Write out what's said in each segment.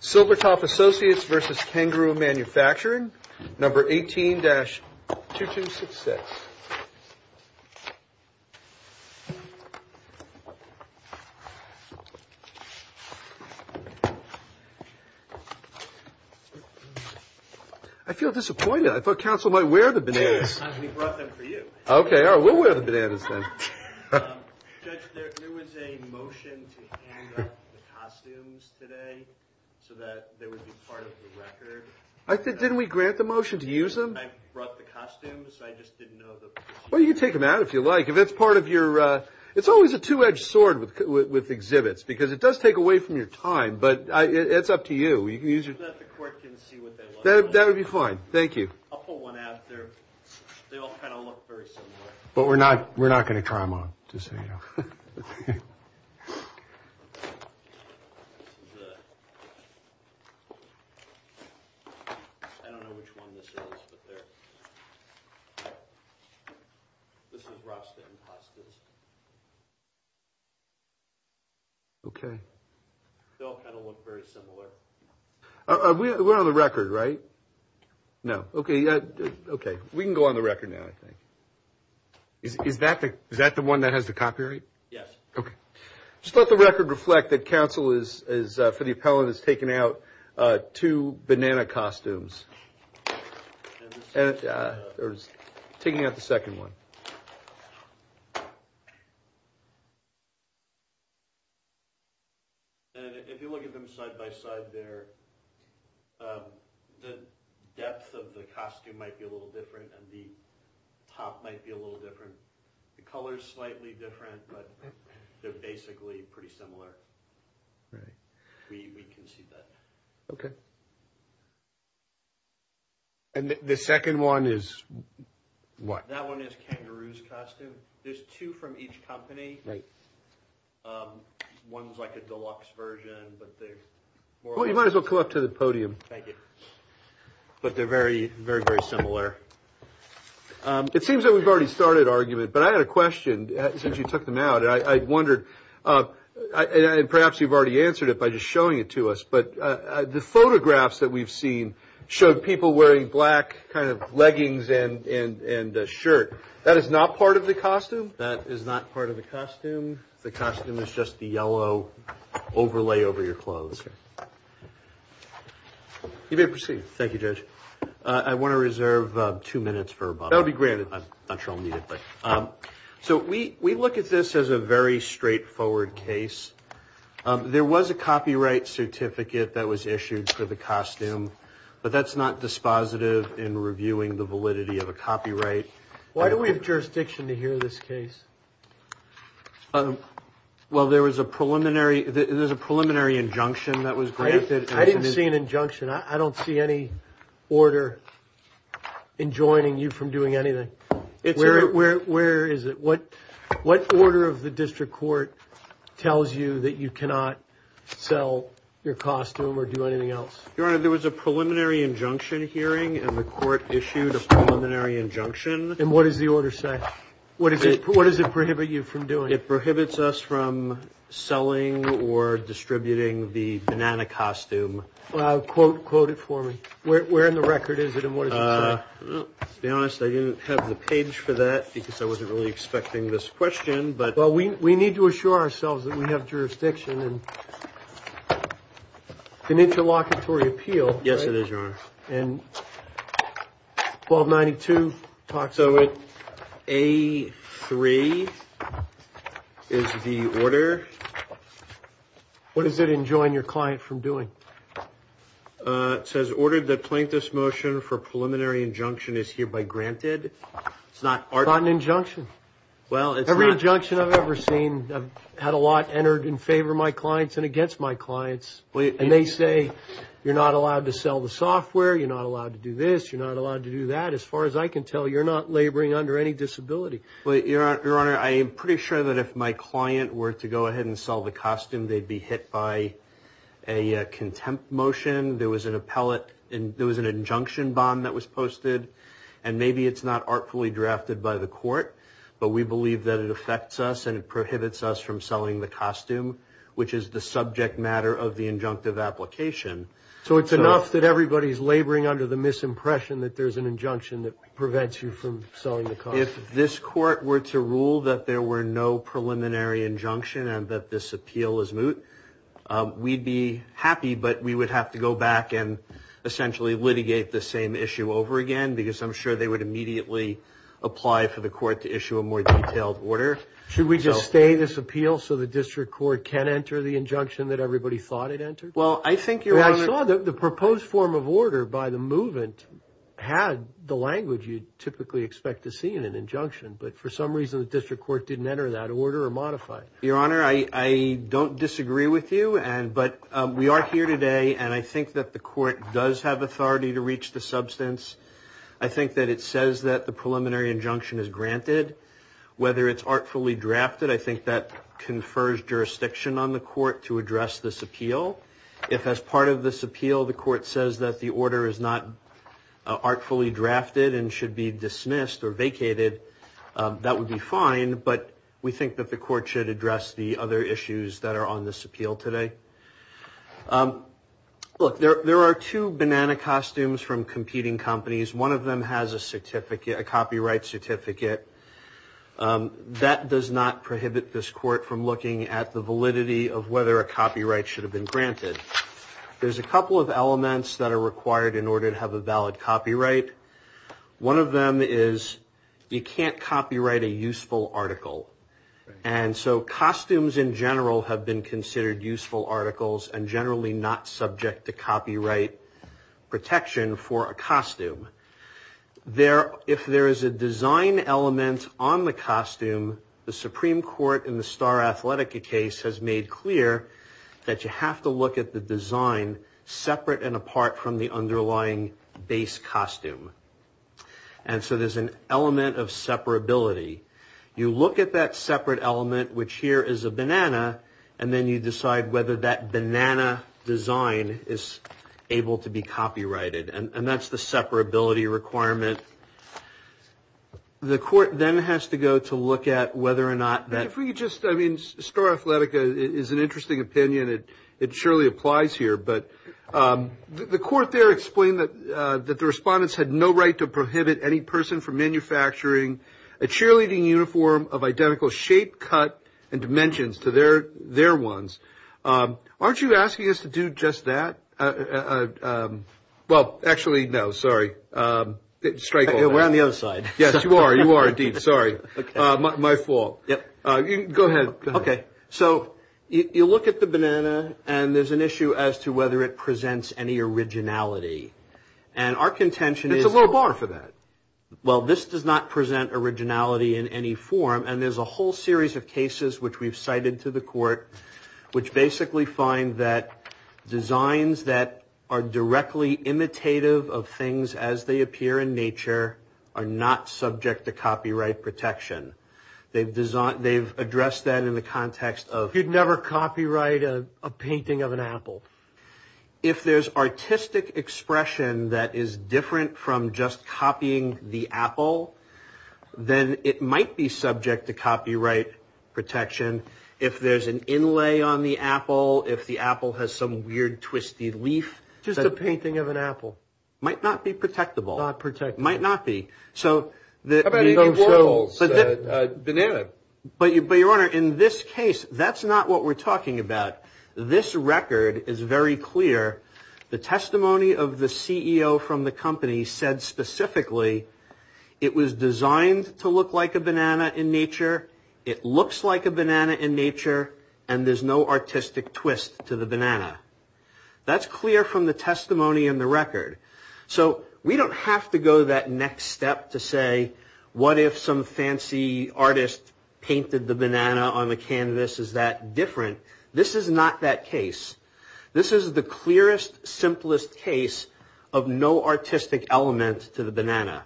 Silvertop Associates versus Kangaroo Manufacturing, number 18-2266. I feel disappointed. I thought counsel might wear the bananas. We brought them for you. Okay, all right. We'll wear the bananas then. Judge, there was a motion to hand out the costumes today so that they would be part of the record. Didn't we grant the motion to use them? I brought the costumes. I just didn't know the procedure. Well, you can take them out if you like. If it's part of your – it's always a two-edged sword with exhibits because it does take away from your time, but it's up to you. You can use your – So that the court can see what they want. That would be fine. Thank you. I'll pull one out. They all kind of look very similar. But we're not going to try them on, just so you know. I don't know which one this is, but they're – this is Rasta Impostors. Okay. They all kind of look very similar. We're on the record, right? No. Okay. We can go on the record now, I think. Is that the one that has the copyright? Yes. Okay. Just let the record reflect that counsel is, for the appellant, has taken out two banana costumes. Taking out the second one. And if you look at them side by side there, the depth of the costume might be a little different, and the top might be a little different. The color is slightly different, but they're basically pretty similar. Right. We can see that. Okay. And the second one is what? That one is Kangaroo's costume. There's two from each company. Right. One's like a deluxe version, but they're more like – Well, you might as well come up to the podium. Thank you. But they're very, very, very similar. It seems that we've already started argument, but I had a question since you took them out, and I wondered – and perhaps you've already answered it by just showing it to us, That is not part of the costume? That is not part of the costume. The costume is just the yellow overlay over your clothes. You may proceed. Thank you, Judge. I want to reserve two minutes for about – That will be granted. I'm not sure I'll need it, but – So we look at this as a very straightforward case. There was a copyright certificate that was issued for the costume, but that's not dispositive in reviewing the validity of a copyright. Why do we have jurisdiction to hear this case? Well, there was a preliminary injunction that was granted. I didn't see an injunction. I don't see any order enjoining you from doing anything. Where is it? What order of the district court tells you that you cannot sell your costume or do anything else? Your Honor, there was a preliminary injunction hearing, and the court issued a preliminary injunction. And what does the order say? What does it prohibit you from doing? It prohibits us from selling or distributing the banana costume. Quote it for me. Where in the record is it, and what does it say? To be honest, I didn't have the page for that because I wasn't really expecting this question. Well, we need to assure ourselves that we have jurisdiction. It's an interlocutory appeal. Yes, it is, Your Honor. And 1292 talks about it. So A3 is the order. What is it enjoining your client from doing? It says order the plaintiff's motion for preliminary injunction is hereby granted. It's not an injunction. Well, it's not. Every injunction I've ever seen, I've had a lot entered in favor of my clients and against my clients. And they say you're not allowed to sell the software, you're not allowed to do this, you're not allowed to do that. As far as I can tell, you're not laboring under any disability. Your Honor, I am pretty sure that if my client were to go ahead and sell the costume, they'd be hit by a contempt motion. There was an injunction bond that was posted. And maybe it's not artfully drafted by the court, but we believe that it affects us and it prohibits us from selling the costume, which is the subject matter of the injunctive application. So it's enough that everybody's laboring under the misimpression that there's an injunction that prevents you from selling the costume? If this court were to rule that there were no preliminary injunction and that this appeal is moot, we'd be happy, but we would have to go back and essentially litigate the same issue over again because I'm sure they would immediately apply for the court to issue a more detailed order. Should we just stay this appeal so the district court can enter the injunction that everybody thought it entered? Well, I think, Your Honor. I saw the proposed form of order by the movement had the language you'd typically expect to see in an injunction. But for some reason, the district court didn't enter that order or modify it. Your Honor, I don't disagree with you, but we are here today, and I think that the court does have authority to reach the substance. I think that it says that the preliminary injunction is granted. Whether it's artfully drafted, I think that confers jurisdiction on the court to address this appeal. If, as part of this appeal, the court says that the order is not artfully drafted and should be dismissed or vacated, that would be fine, but we think that the court should address the other issues that are on this appeal today. Look, there are two banana costumes from competing companies. One of them has a copyright certificate. That does not prohibit this court from looking at the validity of whether a copyright should have been granted. There's a couple of elements that are required in order to have a valid copyright. One of them is you can't copyright a useful article. And so costumes in general have been considered useful articles and generally not subject to copyright protection for a costume. If there is a design element on the costume, the Supreme Court in the Star Athletica case has made clear that you have to look at the design separate and apart from the underlying base costume. And so there's an element of separability. You look at that separate element, which here is a banana, and then you decide whether that banana design is able to be copyrighted. And that's the separability requirement. The court then has to go to look at whether or not that we just, I mean, it surely applies here, but the court there explained that the respondents had no right to prohibit any person from manufacturing a cheerleading uniform of identical shape, cut, and dimensions to their ones. Aren't you asking us to do just that? Well, actually, no, sorry. We're on the other side. Yes, you are. You are, indeed. Sorry. My fault. Go ahead. Okay. So you look at the banana, and there's an issue as to whether it presents any originality. And our contention is... There's a little bar for that. Well, this does not present originality in any form, and there's a whole series of cases which we've cited to the court, which basically find that designs that are directly imitative of things as they appear in nature are not subject to copyright protection. They've addressed that in the context of... You'd never copyright a painting of an apple. If there's artistic expression that is different from just copying the apple, then it might be subject to copyright protection. If there's an inlay on the apple, if the apple has some weird twisted leaf... Just a painting of an apple. Might not be protectable. Not protectable. Might not be. How about in those journals? Banana. But, Your Honor, in this case, that's not what we're talking about. This record is very clear. The testimony of the CEO from the company said specifically it was designed to look like a banana in nature, it looks like a banana in nature, and there's no artistic twist to the banana. That's clear from the testimony in the record. So we don't have to go to that next step to say, what if some fancy artist painted the banana on the canvas? Is that different? This is not that case. This is the clearest, simplest case of no artistic element to the banana.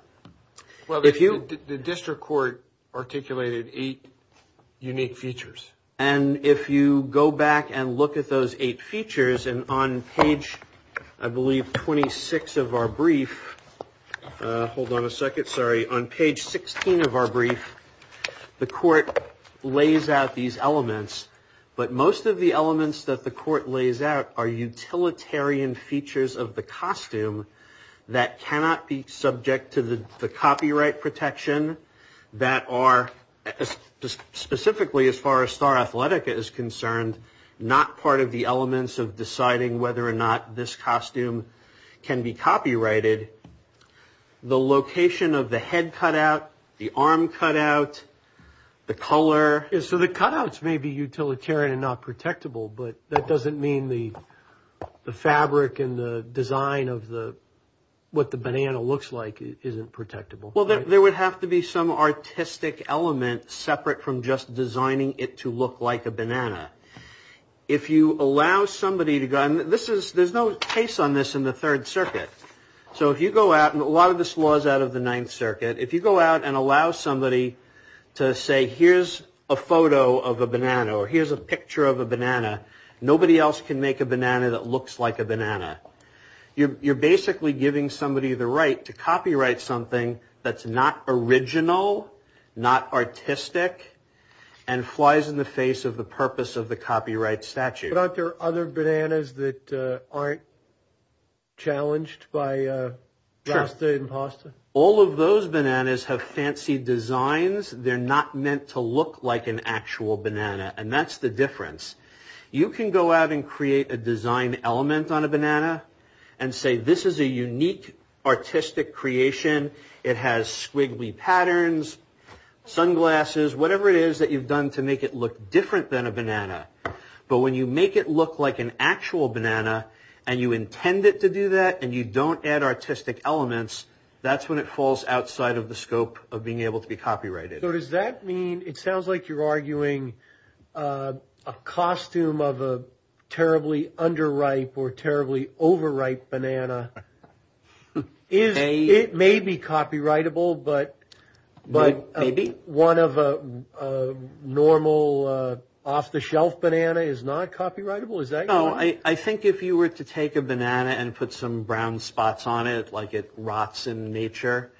Well, the district court articulated eight unique features. And if you go back and look at those eight features, and on page, I believe, 26 of our brief... Hold on a second. Sorry. On page 16 of our brief, the court lays out these elements, but most of the elements that the court lays out are utilitarian features of the costume that cannot be subject to the copyright protection that are specifically, as far as Star Athletica is concerned, not part of the elements of deciding whether or not this costume can be copyrighted. The location of the head cutout, the arm cutout, the color... So the cutouts may be utilitarian and not protectable, but that doesn't mean the fabric and the design of what the banana looks like isn't protectable. Well, there would have to be some artistic element separate from just designing it to look like a banana. If you allow somebody to go... There's no case on this in the Third Circuit. So if you go out, and a lot of this law is out of the Ninth Circuit, if you go out and allow somebody to say, here's a photo of a banana or here's a picture of a banana, nobody else can make a banana that looks like a banana. You're basically giving somebody the right to copyright something that's not original, not artistic, and flies in the face of the purpose of the copyright statute. But aren't there other bananas that aren't challenged by Rasta Impostor? All of those bananas have fancy designs. They're not meant to look like an actual banana, and that's the difference. You can go out and create a design element on a banana and say, this is a unique artistic creation. It has squiggly patterns, sunglasses, whatever it is that you've done to make it look different than a banana. But when you make it look like an actual banana, and you intend it to do that, and you don't add artistic elements, that's when it falls outside of the scope of being able to be copyrighted. So does that mean, it sounds like you're arguing a costume of a terribly underripe or terribly overripe banana, it may be copyrightable, but one of a normal off-the-shelf banana is not copyrightable? I think if you were to take a banana and put some brown spots on it, like it rots in nature,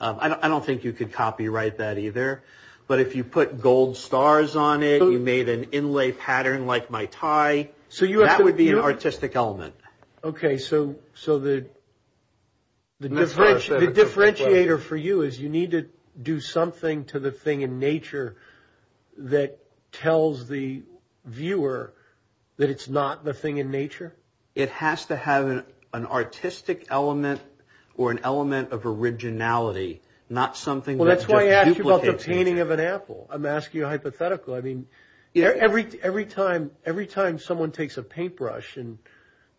I don't think you could copyright that either. But if you put gold stars on it, you made an inlay pattern like my tie, that would be an artistic element. Okay, so the differentiator for you is you need to do something to the thing in nature that tells the viewer that it's not the thing in nature? It has to have an artistic element or an element of originality, not something that's just duplicating. Well, that's why I asked you about the painting of an apple. I'm asking you a hypothetical. Every time someone takes a paintbrush and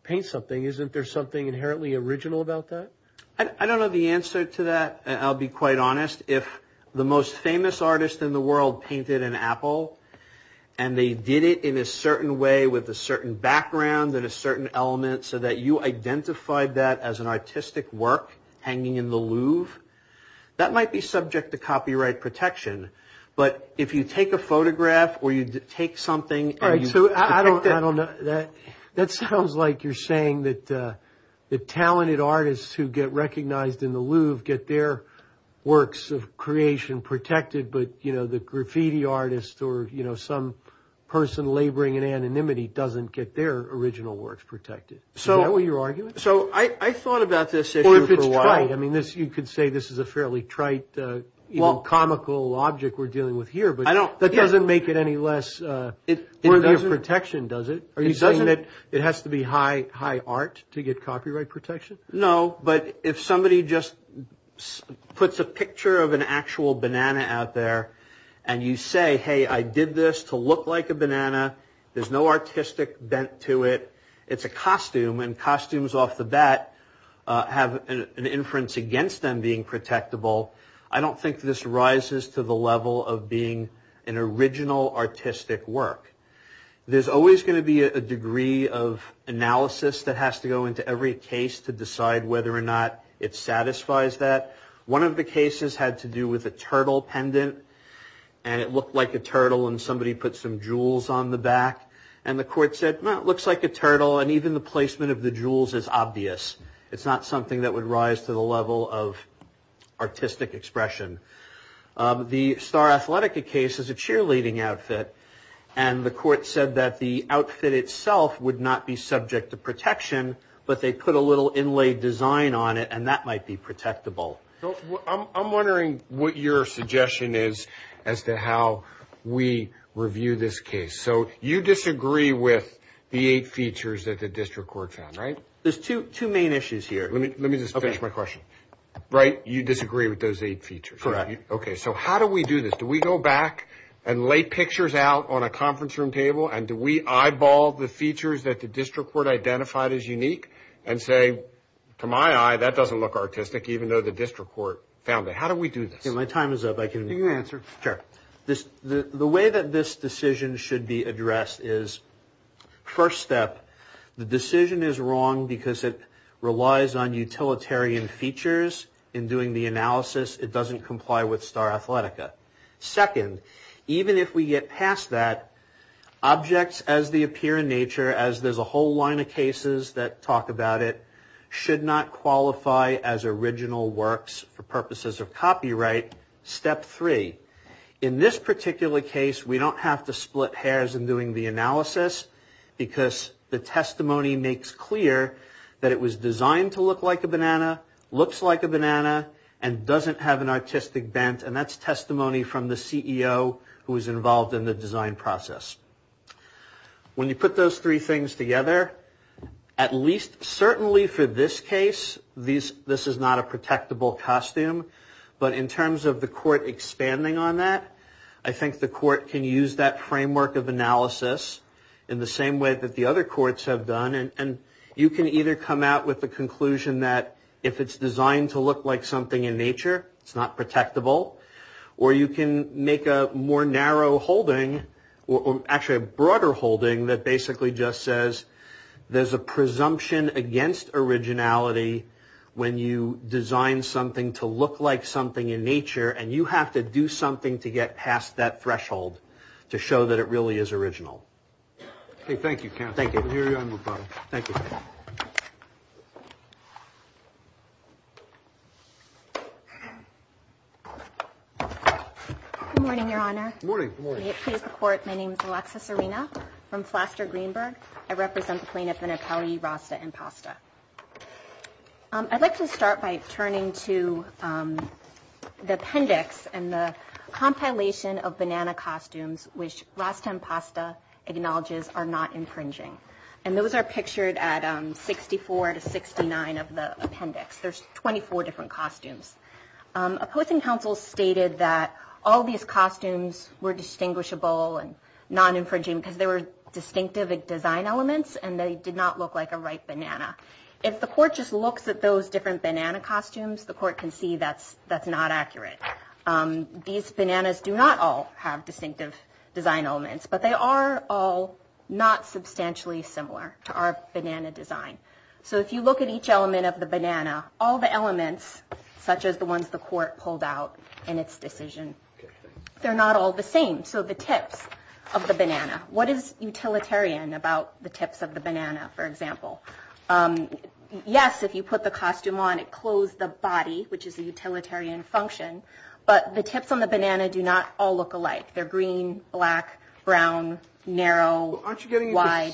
paints something, isn't there something inherently original about that? I don't know the answer to that, and I'll be quite honest. If the most famous artist in the world painted an apple, and they did it in a certain way with a certain background and a certain element, so that you identified that as an artistic work hanging in the Louvre, that might be subject to copyright protection. But if you take a photograph or you take something and you protect it... All right, so I don't know. That sounds like you're saying that talented artists who get recognized in the Louvre get their works of creation protected, but the graffiti artist or some person laboring in anonymity doesn't get their original works protected. Is that what you're arguing? So I thought about this issue for a while. I mean, you could say this is a fairly trite, comical object we're dealing with here, but that doesn't make it any less worthy of protection, does it? Are you saying that it has to be high art to get copyright protection? No, but if somebody just puts a picture of an actual banana out there, and you say, hey, I did this to look like a banana. There's no artistic bent to it. It's a costume, and costumes off the bat have an inference against them being protectable. I don't think this rises to the level of being an original artistic work. There's always going to be a degree of analysis that has to go into every case to decide whether or not it satisfies that. One of the cases had to do with a turtle pendant, and it looked like a turtle, and somebody put some jewels on the back, and the court said, well, it looks like a turtle, and even the placement of the jewels is obvious. It's not something that would rise to the level of artistic expression. The Star Athletica case is a cheerleading outfit, and the court said that the outfit itself would not be subject to protection, but they put a little inlaid design on it, and that might be protectable. I'm wondering what your suggestion is as to how we review this case. So you disagree with the eight features that the district court found, right? There's two main issues here. Let me just finish my question. Right, you disagree with those eight features. Correct. Okay, so how do we do this? Do we go back and lay pictures out on a conference room table, and do we eyeball the features that the district court identified as unique, and say, to my eye, that doesn't look artistic, even though the district court found it? How do we do this? Okay, my time is up. You can answer. Sure. The way that this decision should be addressed is, first step, the decision is wrong because it relies on utilitarian features in doing the analysis. It doesn't comply with Star Athletica. Second, even if we get past that, objects as they appear in nature, as there's a whole line of cases that talk about it, should not qualify as original works for purposes of copyright. Step three, in this particular case, we don't have to split hairs in doing the analysis, because the testimony makes clear that it was designed to look like a banana, looks like a banana, and doesn't have an artistic bent, and that's testimony from the CEO who was involved in the design process. When you put those three things together, at least certainly for this case, this is not a protectable costume, but in terms of the court expanding on that, I think the court can use that framework of analysis in the same way that the other courts have done, and you can either come out with the conclusion that if it's designed to look like something in nature, it's not protectable, or you can make a more narrow holding, or actually a broader holding that basically just says there's a presumption against originality when you design something to look like something in nature, and you have to do something to get past that threshold to show that it really is original. Okay, thank you, counsel. Thank you. Good morning, Your Honor. Good morning. May it please the Court, my name is Alexis Arena from Flaster-Greenberg. I represent the plaintiff in appellee Rasta and Pasta. I'd like to start by turning to the appendix and the compilation of banana costumes, which Rasta and Pasta acknowledges are not infringing, and those are pictured at 64 to 69 of the appendix. There's 24 different costumes. Opposing counsel stated that all these costumes were distinguishable and non-infringing because they were distinctive design elements and they did not look like a ripe banana. If the court just looks at those different banana costumes, the court can see that's not accurate. These bananas do not all have distinctive design elements, but they are all not substantially similar to our banana design. So if you look at each element of the banana, all the elements, such as the ones the court pulled out in its decision, they're not all the same. So the tips of the banana, what is utilitarian about the tips of the banana, for example? Yes, if you put the costume on, it clothes the body, which is a utilitarian function, but the tips on the banana do not all look alike. They're green, black, brown, narrow, wide.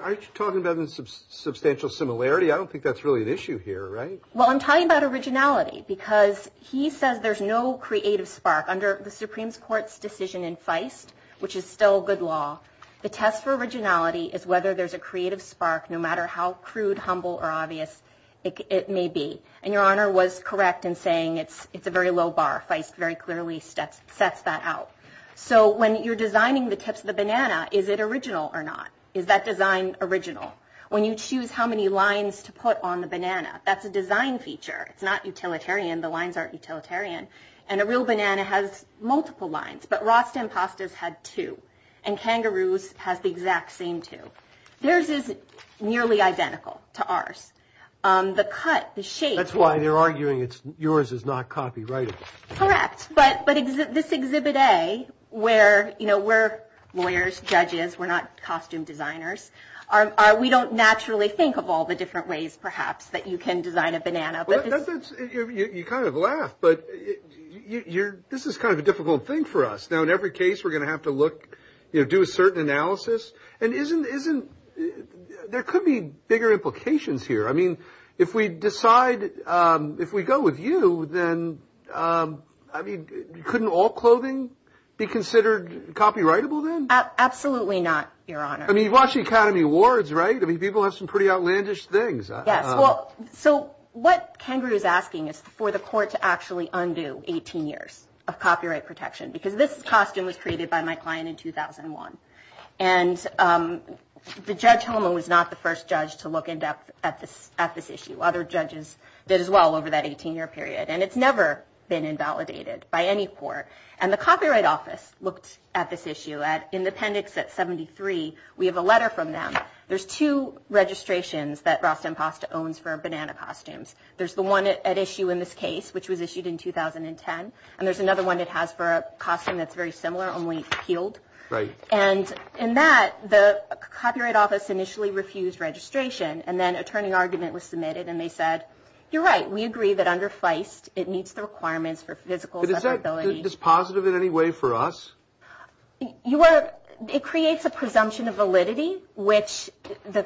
Aren't you talking about a substantial similarity? I don't think that's really an issue here, right? Well, I'm talking about originality because he says there's no creative spark. Under the Supreme Court's decision in Feist, which is still good law, the test for originality is whether there's a creative spark, no matter how crude, humble, or obvious it may be. And Your Honor was correct in saying it's a very low bar. Feist very clearly sets that out. So when you're designing the tips of the banana, is it original or not? Is that design original? When you choose how many lines to put on the banana, that's a design feature. It's not utilitarian. The lines aren't utilitarian. And a real banana has multiple lines. But Rasta and Pastas had two. And Kangaroos has the exact same two. Theirs is nearly identical to ours. The cut, the shape. That's why they're arguing yours is not copyrighted. Correct. But this Exhibit A, where, you know, we're lawyers, judges, we're not costume designers, we don't naturally think of all the different ways, perhaps, that you can design a banana. You kind of laugh. But this is kind of a difficult thing for us. Now, in every case, we're going to have to look, you know, do a certain analysis. And there could be bigger implications here. I mean, if we decide, if we go with you, then, I mean, couldn't all clothing be considered copyrightable then? Absolutely not, Your Honor. I mean, you've watched the Academy Awards, right? I mean, people have some pretty outlandish things. Yes. Well, so what Kangaroo is asking is for the court to actually undo 18 years of copyright protection. Because this costume was created by my client in 2001. And the Judge Holman was not the first judge to look in depth at this issue. Other judges did as well over that 18-year period. And it's never been invalidated by any court. And the Copyright Office looked at this issue. In the appendix at 73, we have a letter from them. There's two registrations that Rasta and Pasta owns for banana costumes. There's the one at issue in this case, which was issued in 2010. And there's another one it has for a costume that's very similar, only peeled. Right. And in that, the Copyright Office initially refused registration. And then a turning argument was submitted. And they said, you're right. We agree that under Feist, it meets the requirements for physical separability. Is that positive in any way for us? It creates a presumption of validity, which the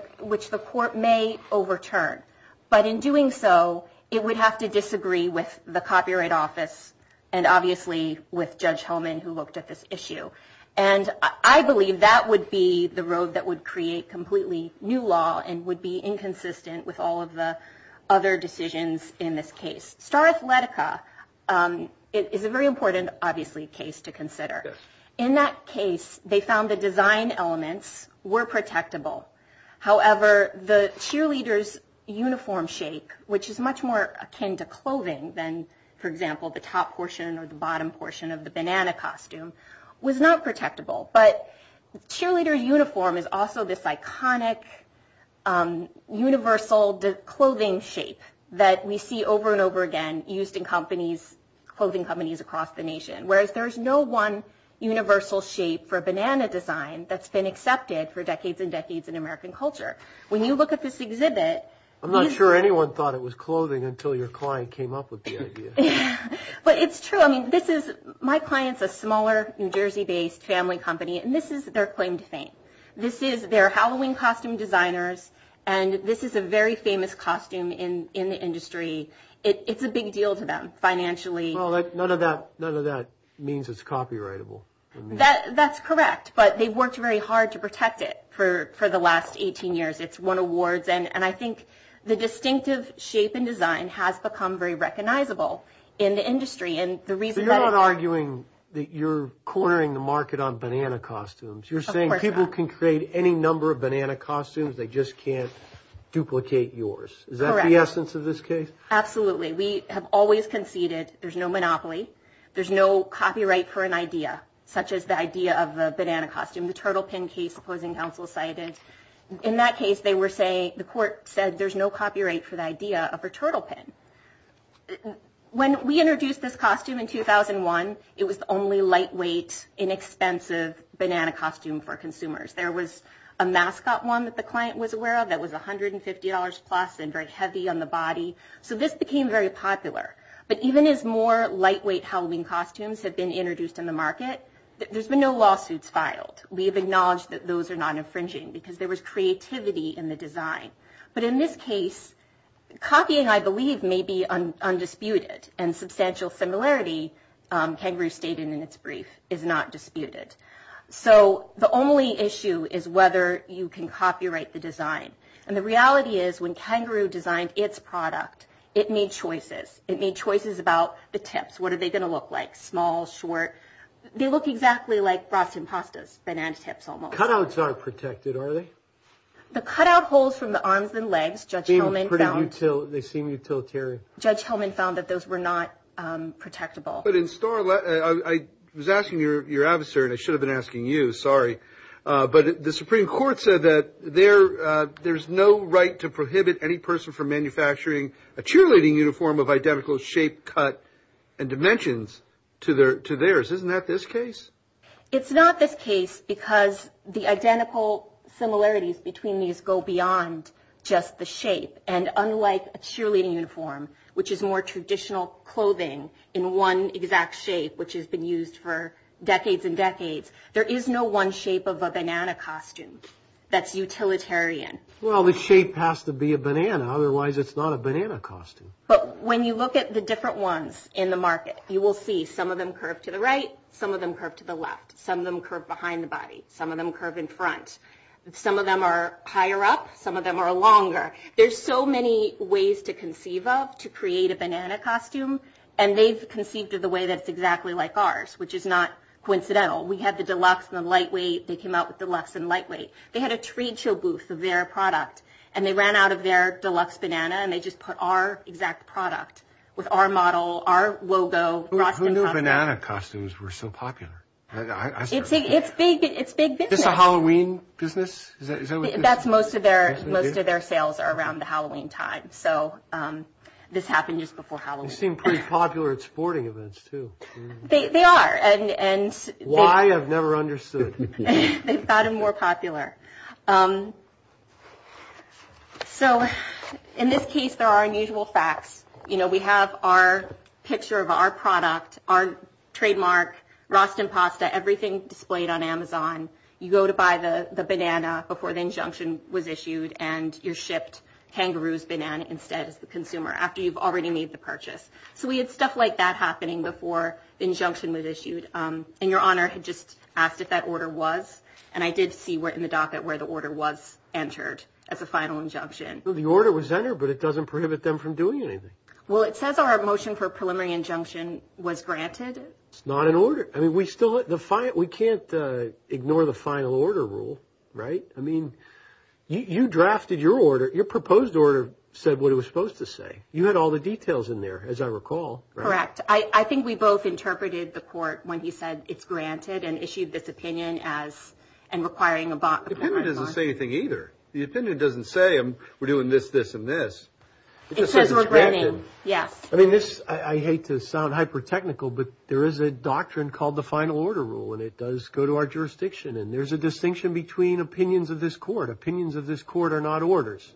court may overturn. But in doing so, it would have to disagree with the Copyright Office and obviously with Judge Holman, who looked at this issue. And I believe that would be the road that would create completely new law and would be inconsistent with all of the other decisions in this case. Star Athletica is a very important, obviously, case to consider. In that case, they found the design elements were protectable. However, the cheerleader's uniform shape, which is much more akin to clothing than, for example, the top portion or the bottom portion of the banana costume, was not protectable. But cheerleader uniform is also this iconic universal clothing shape that we see over and over again used in clothing companies across the nation, whereas there is no one universal shape for banana design that's been accepted for decades and decades in American culture. When you look at this exhibit... I'm not sure anyone thought it was clothing until your client came up with the idea. But it's true. I mean, my client's a smaller New Jersey-based family company, and this is their claim to fame. This is their Halloween costume designers, and this is a very famous costume in the industry. It's a big deal to them financially. None of that means it's copyrightable. That's correct, but they've worked very hard to protect it for the last 18 years. It's won awards. And I think the distinctive shape and design has become very recognizable in the industry. So you're not arguing that you're cornering the market on banana costumes. You're saying people can create any number of banana costumes, they just can't duplicate yours. Correct. Is that the essence of this case? Absolutely. We have always conceded there's no monopoly, there's no copyright for an idea. Such as the idea of a banana costume, the turtle pin case opposing counsel cited. In that case, the court said there's no copyright for the idea of a turtle pin. When we introduced this costume in 2001, it was the only lightweight, inexpensive banana costume for consumers. There was a mascot one that the client was aware of that was $150 plus and very heavy on the body. So this became very popular. But even as more lightweight Halloween costumes have been introduced in the market, there's been no lawsuits filed. We have acknowledged that those are not infringing because there was creativity in the design. But in this case, copying, I believe, may be undisputed. And substantial similarity, Kangaroo stated in its brief, is not disputed. So the only issue is whether you can copyright the design. And the reality is when Kangaroo designed its product, it made choices. It made choices about the tips. What are they going to look like? Small, short? They look exactly like Frosted Pastas, banana tips almost. Cutouts aren't protected, are they? The cutout holes from the arms and legs, Judge Hillman found. They seem utilitarian. Judge Hillman found that those were not protectable. But in Starlet, I was asking your adversary, and I should have been asking you, sorry. But the Supreme Court said that there's no right to prohibit any person from manufacturing a cheerleading uniform of identical shape, cut, and dimensions to theirs. Isn't that this case? It's not this case because the identical similarities between these go beyond just the shape. And unlike a cheerleading uniform, which is more traditional clothing in one exact shape, which has been used for decades and decades, there is no one shape of a banana costume that's utilitarian. Well, the shape has to be a banana. Otherwise, it's not a banana costume. But when you look at the different ones in the market, you will see some of them curve to the right. Some of them curve to the left. Some of them curve behind the body. Some of them curve in front. Some of them are higher up. Some of them are longer. There's so many ways to conceive of to create a banana costume, and they've conceived of the way that it's exactly like ours, which is not coincidental. We had the deluxe and the lightweight. They came out with deluxe and lightweight. They had a trade show booth of their product, and they ran out of their deluxe banana, and they just put our exact product with our model, our logo. Who knew banana costumes were so popular? It's big business. Is this a Halloween business? That's most of their sales are around the Halloween time, so this happened just before Halloween. They seem pretty popular at sporting events, too. They are. Why? I've never understood. They've gotten more popular. So in this case, there are unusual facts. You know, we have our picture of our product, our trademark, Rostenpasta, everything displayed on Amazon. You go to buy the banana before the injunction was issued, and you're shipped kangaroo's banana instead as the consumer after you've already made the purchase. So we had stuff like that happening before the injunction was issued, and Your Honor had just asked if that order was, and I did see in the docket where the order was entered as a final injunction. Well, the order was entered, but it doesn't prohibit them from doing anything. Well, it says our motion for preliminary injunction was granted. It's not an order. I mean, we can't ignore the final order rule, right? I mean, you drafted your order. Your proposed order said what it was supposed to say. You had all the details in there, as I recall. Correct. I think we both interpreted the court when he said it's granted and issued this opinion as, and requiring a bond. The opinion doesn't say anything either. The opinion doesn't say we're doing this, this, and this. It says we're granting. Yes. I mean, this, I hate to sound hyper-technical, but there is a doctrine called the final order rule, and it does go to our jurisdiction, and there's a distinction between opinions of this court. Opinions of this court are not orders,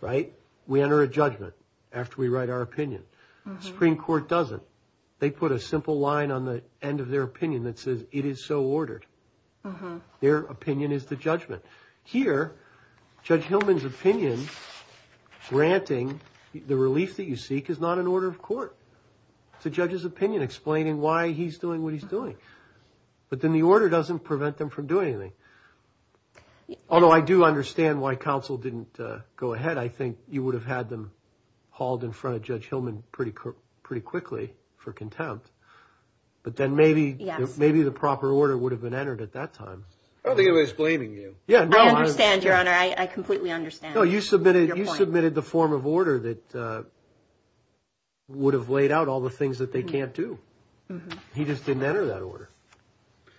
right? We enter a judgment after we write our opinion. The Supreme Court doesn't. They put a simple line on the end of their opinion that says it is so ordered. Their opinion is the judgment. Here, Judge Hillman's opinion granting the relief that you seek is not an order of court. It's a judge's opinion explaining why he's doing what he's doing. But then the order doesn't prevent them from doing anything. Although I do understand why counsel didn't go ahead. I think you would have had them hauled in front of Judge Hillman pretty quickly for contempt. But then maybe the proper order would have been entered at that time. I don't think he was blaming you. I understand, Your Honor. I completely understand. No, you submitted the form of order that would have laid out all the things that they can't do. He just didn't enter that order.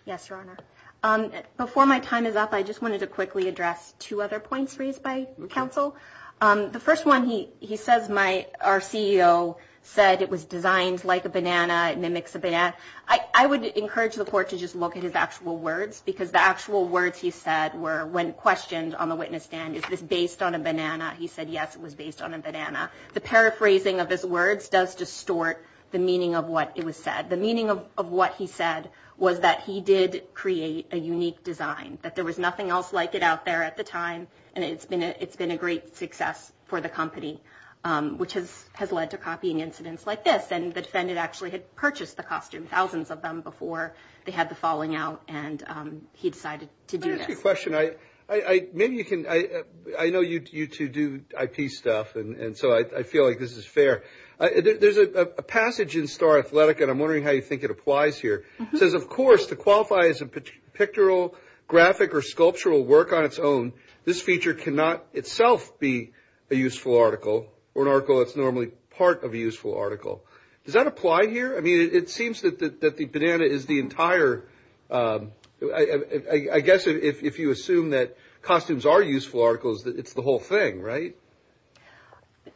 Yes, Your Honor. Before my time is up, I just wanted to quickly address two other points raised by counsel. The first one, he says our CEO said it was designed like a banana. It mimics a banana. I would encourage the court to just look at his actual words because the actual words he said were, when questioned on the witness stand, is this based on a banana? He said, yes, it was based on a banana. The paraphrasing of his words does distort the meaning of what it was said. The meaning of what he said was that he did create a unique design, that there was nothing else like it out there at the time, and it's been a great success for the company, which has led to copying incidents like this. And the defendant actually had purchased the costume, thousands of them, before they had the falling out, and he decided to do this. Let me ask you a question. I know you two do IP stuff, and so I feel like this is fair. There's a passage in Star Athletic, and I'm wondering how you think it applies here. It says, of course, to qualify as pictorial, graphic, or sculptural work on its own, this feature cannot itself be a useful article or an article that's normally part of a useful article. Does that apply here? I mean, it seems that the banana is the entire – I guess if you assume that costumes are useful articles, it's the whole thing, right?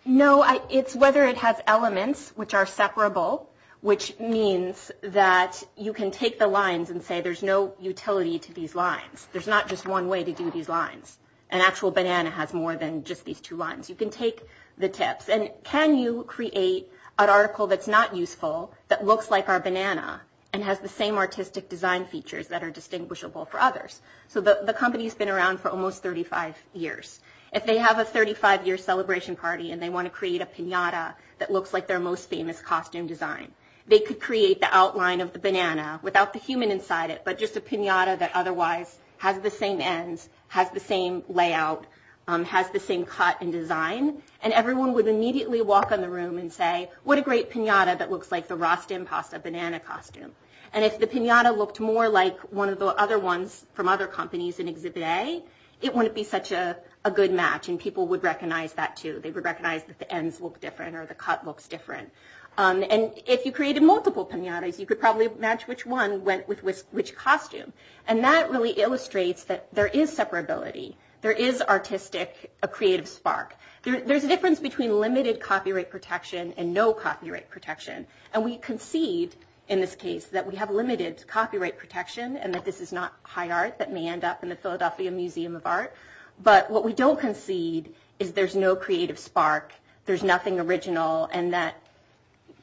No, it's whether it has elements which are separable, which means that you can take the lines and say there's no utility to these lines. There's not just one way to do these lines. An actual banana has more than just these two lines. You can take the tips. And can you create an article that's not useful, that looks like our banana, and has the same artistic design features that are distinguishable for others? So the company's been around for almost 35 years. If they have a 35-year celebration party and they want to create a piñata that looks like their most famous costume design, they could create the outline of the banana without the human inside it, but just a piñata that otherwise has the same ends, has the same layout, has the same cut and design, and everyone would immediately walk in the room and say, what a great piñata that looks like the Rostim pasta banana costume. And if the piñata looked more like one of the other ones from other companies in Exhibit A, it wouldn't be such a good match. And people would recognize that, too. They would recognize that the ends look different or the cut looks different. And if you created multiple piñatas, you could probably match which one went with which costume. And that really illustrates that there is separability. There is artistic, a creative spark. There's a difference between limited copyright protection and no copyright protection. And we concede in this case that we have limited copyright protection and that this is not high art that may end up in the Philadelphia Museum of Art. But what we don't concede is there's no creative spark, there's nothing original, and that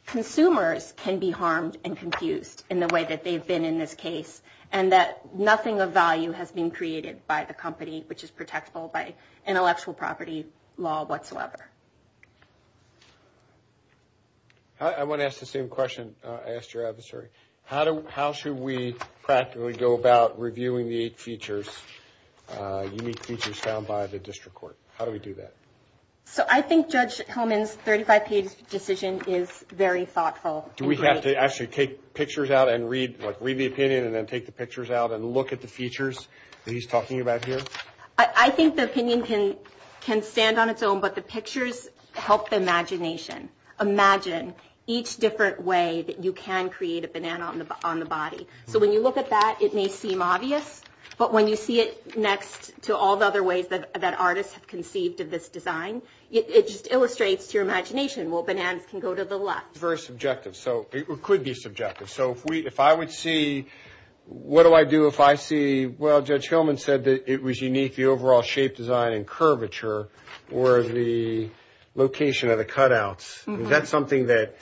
consumers can be harmed and confused in the way that they've been in this case, and that nothing of value has been created by the company, which is protectable by intellectual property law whatsoever. I want to ask the same question I asked your adversary. How should we practically go about reviewing the eight features, unique features found by the district court? How do we do that? So I think Judge Hellman's 35-page decision is very thoughtful. Do we have to actually take pictures out and read the opinion and then take the pictures out and look at the features that he's talking about here? I think the opinion can stand on its own, but the pictures help the imagination. Imagine each different way that you can create a banana on the body. So when you look at that, it may seem obvious, but when you see it next to all the other ways that artists have conceived of this design, it just illustrates your imagination. Well, bananas can go to the left. Very subjective, so it could be subjective. So if I would see, what do I do if I see, well, Judge Hellman said that it was unique, the overall shape, design, and curvature, or the location of the cutouts. Is that something that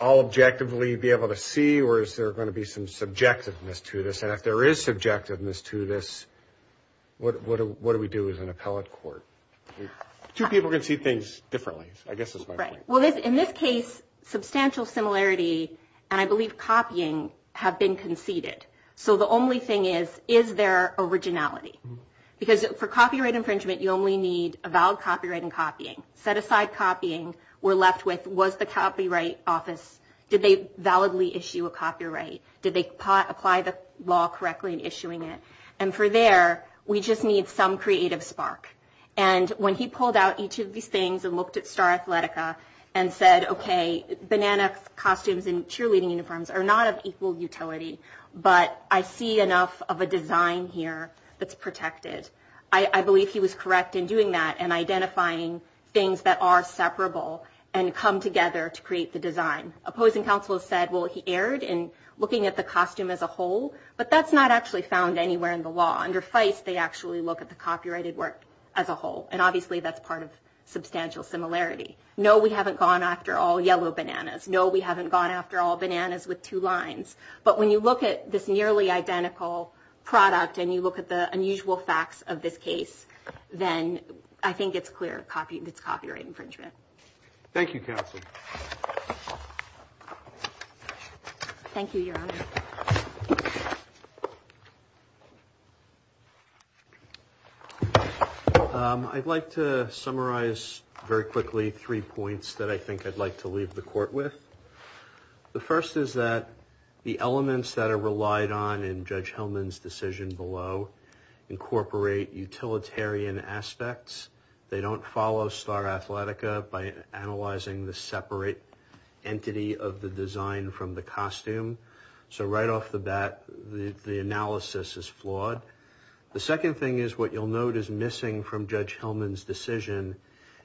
I'll objectively be able to see, or is there going to be some subjectiveness to this? And if there is subjectiveness to this, what do we do as an appellate court? Two people can see things differently, I guess is my point. Right. Well, in this case, substantial similarity, and I believe copying, have been conceded. So the only thing is, is there originality? Because for copyright infringement, you only need a valid copyright in copying. Set aside copying, we're left with, was the Copyright Office, did they validly issue a copyright? Did they apply the law correctly in issuing it? And for there, we just need some creative spark. And when he pulled out each of these things and looked at Star Athletica, and said, okay, banana costumes and cheerleading uniforms are not of equal utility, but I see enough of a design here that's protected. I believe he was correct in doing that and identifying things that are separable and come together to create the design. Opposing counsel said, well, he erred in looking at the costume as a whole, but that's not actually found anywhere in the law. Under FICE, they actually look at the copyrighted work as a whole, and obviously that's part of substantial similarity. No, we haven't gone after all yellow bananas. No, we haven't gone after all bananas with two lines. But when you look at this nearly identical product and you look at the unusual facts of this case, then I think it's clear it's copyright infringement. Thank you, Counsel. Thank you, Your Honor. I'd like to summarize very quickly three points that I think I'd like to leave the court with. The first is that the elements that are relied on in Judge Hillman's decision below incorporate utilitarian aspects. They don't follow Star Athletica by analyzing the separate entity of the design from the costume. So right off the bat, the analysis is flawed. The second thing is what you'll note is missing from Judge Hillman's decision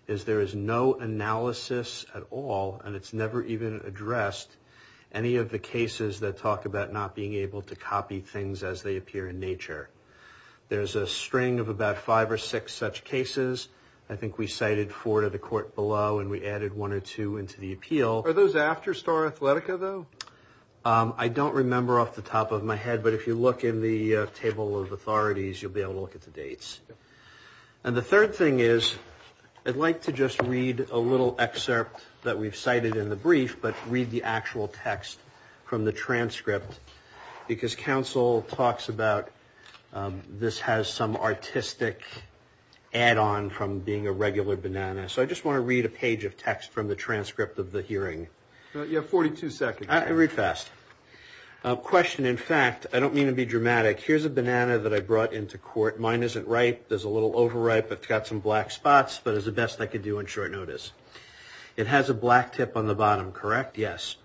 is there is no analysis at all, and it's never even addressed, any of the cases that talk about not being able to copy things as they appear in nature. There's a string of about five or six such cases. I think we cited four to the court below, and we added one or two into the appeal. Are those after Star Athletica, though? I don't remember off the top of my head, but if you look in the table of authorities, you'll be able to look at the dates. And the third thing is I'd like to just read a little excerpt that we've cited in the brief, but read the actual text from the transcript, because counsel talks about this has some artistic add-on from being a regular banana. So I just want to read a page of text from the transcript of the hearing. You have 42 seconds. Read fast. Question. In fact, I don't mean to be dramatic. Here's a banana that I brought into court. Mine isn't ripe. There's a little overripe. It's got some black spots, but it's the best I could do on short notice. It has a black tip on the bottom, correct? Yes.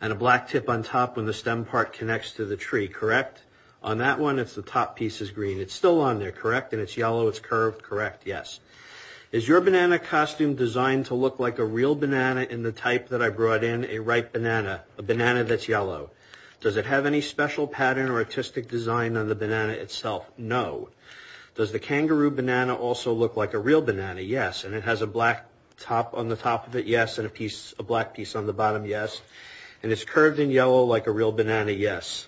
And a black tip on top when the stem part connects to the tree, correct? On that one, it's the top piece is green. It's still on there, correct? And it's yellow. It's curved, correct? Yes. Is your banana costume designed to look like a real banana in the type that I brought in, a ripe banana, a banana that's yellow? Does it have any special pattern or artistic design on the banana itself? No. Does the kangaroo banana also look like a real banana? Yes. And it has a black top on the top of it? Yes. And a black piece on the bottom? Yes. And it's curved and yellow like a real banana? Yes.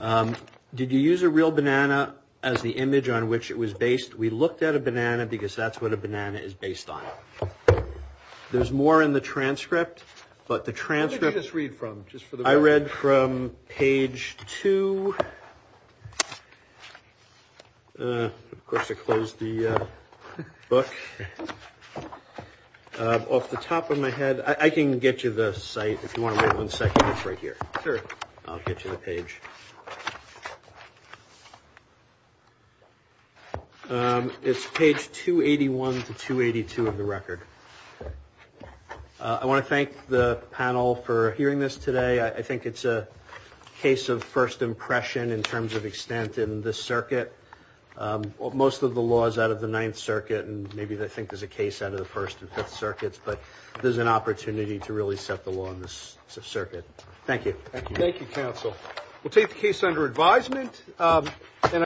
Did you use a real banana as the image on which it was based? We looked at a banana because that's what a banana is based on. There's more in the transcript, but the transcript... What did you just read from, just for the record? I read from page 2. Of course, I closed the book. Off the top of my head, I can get you the site if you want to wait one second. It's right here. Sure. I'll get you the page. It's page 281 to 282 of the record. I want to thank the panel for hearing this today. I think it's a case of first impression in terms of extent in this circuit. Most of the law is out of the Ninth Circuit, and maybe they think there's a case out of the First and Fifth Circuits, but this is an opportunity to really set the law in this circuit. Thank you. Thank you, counsel. We'll take the case under advisement.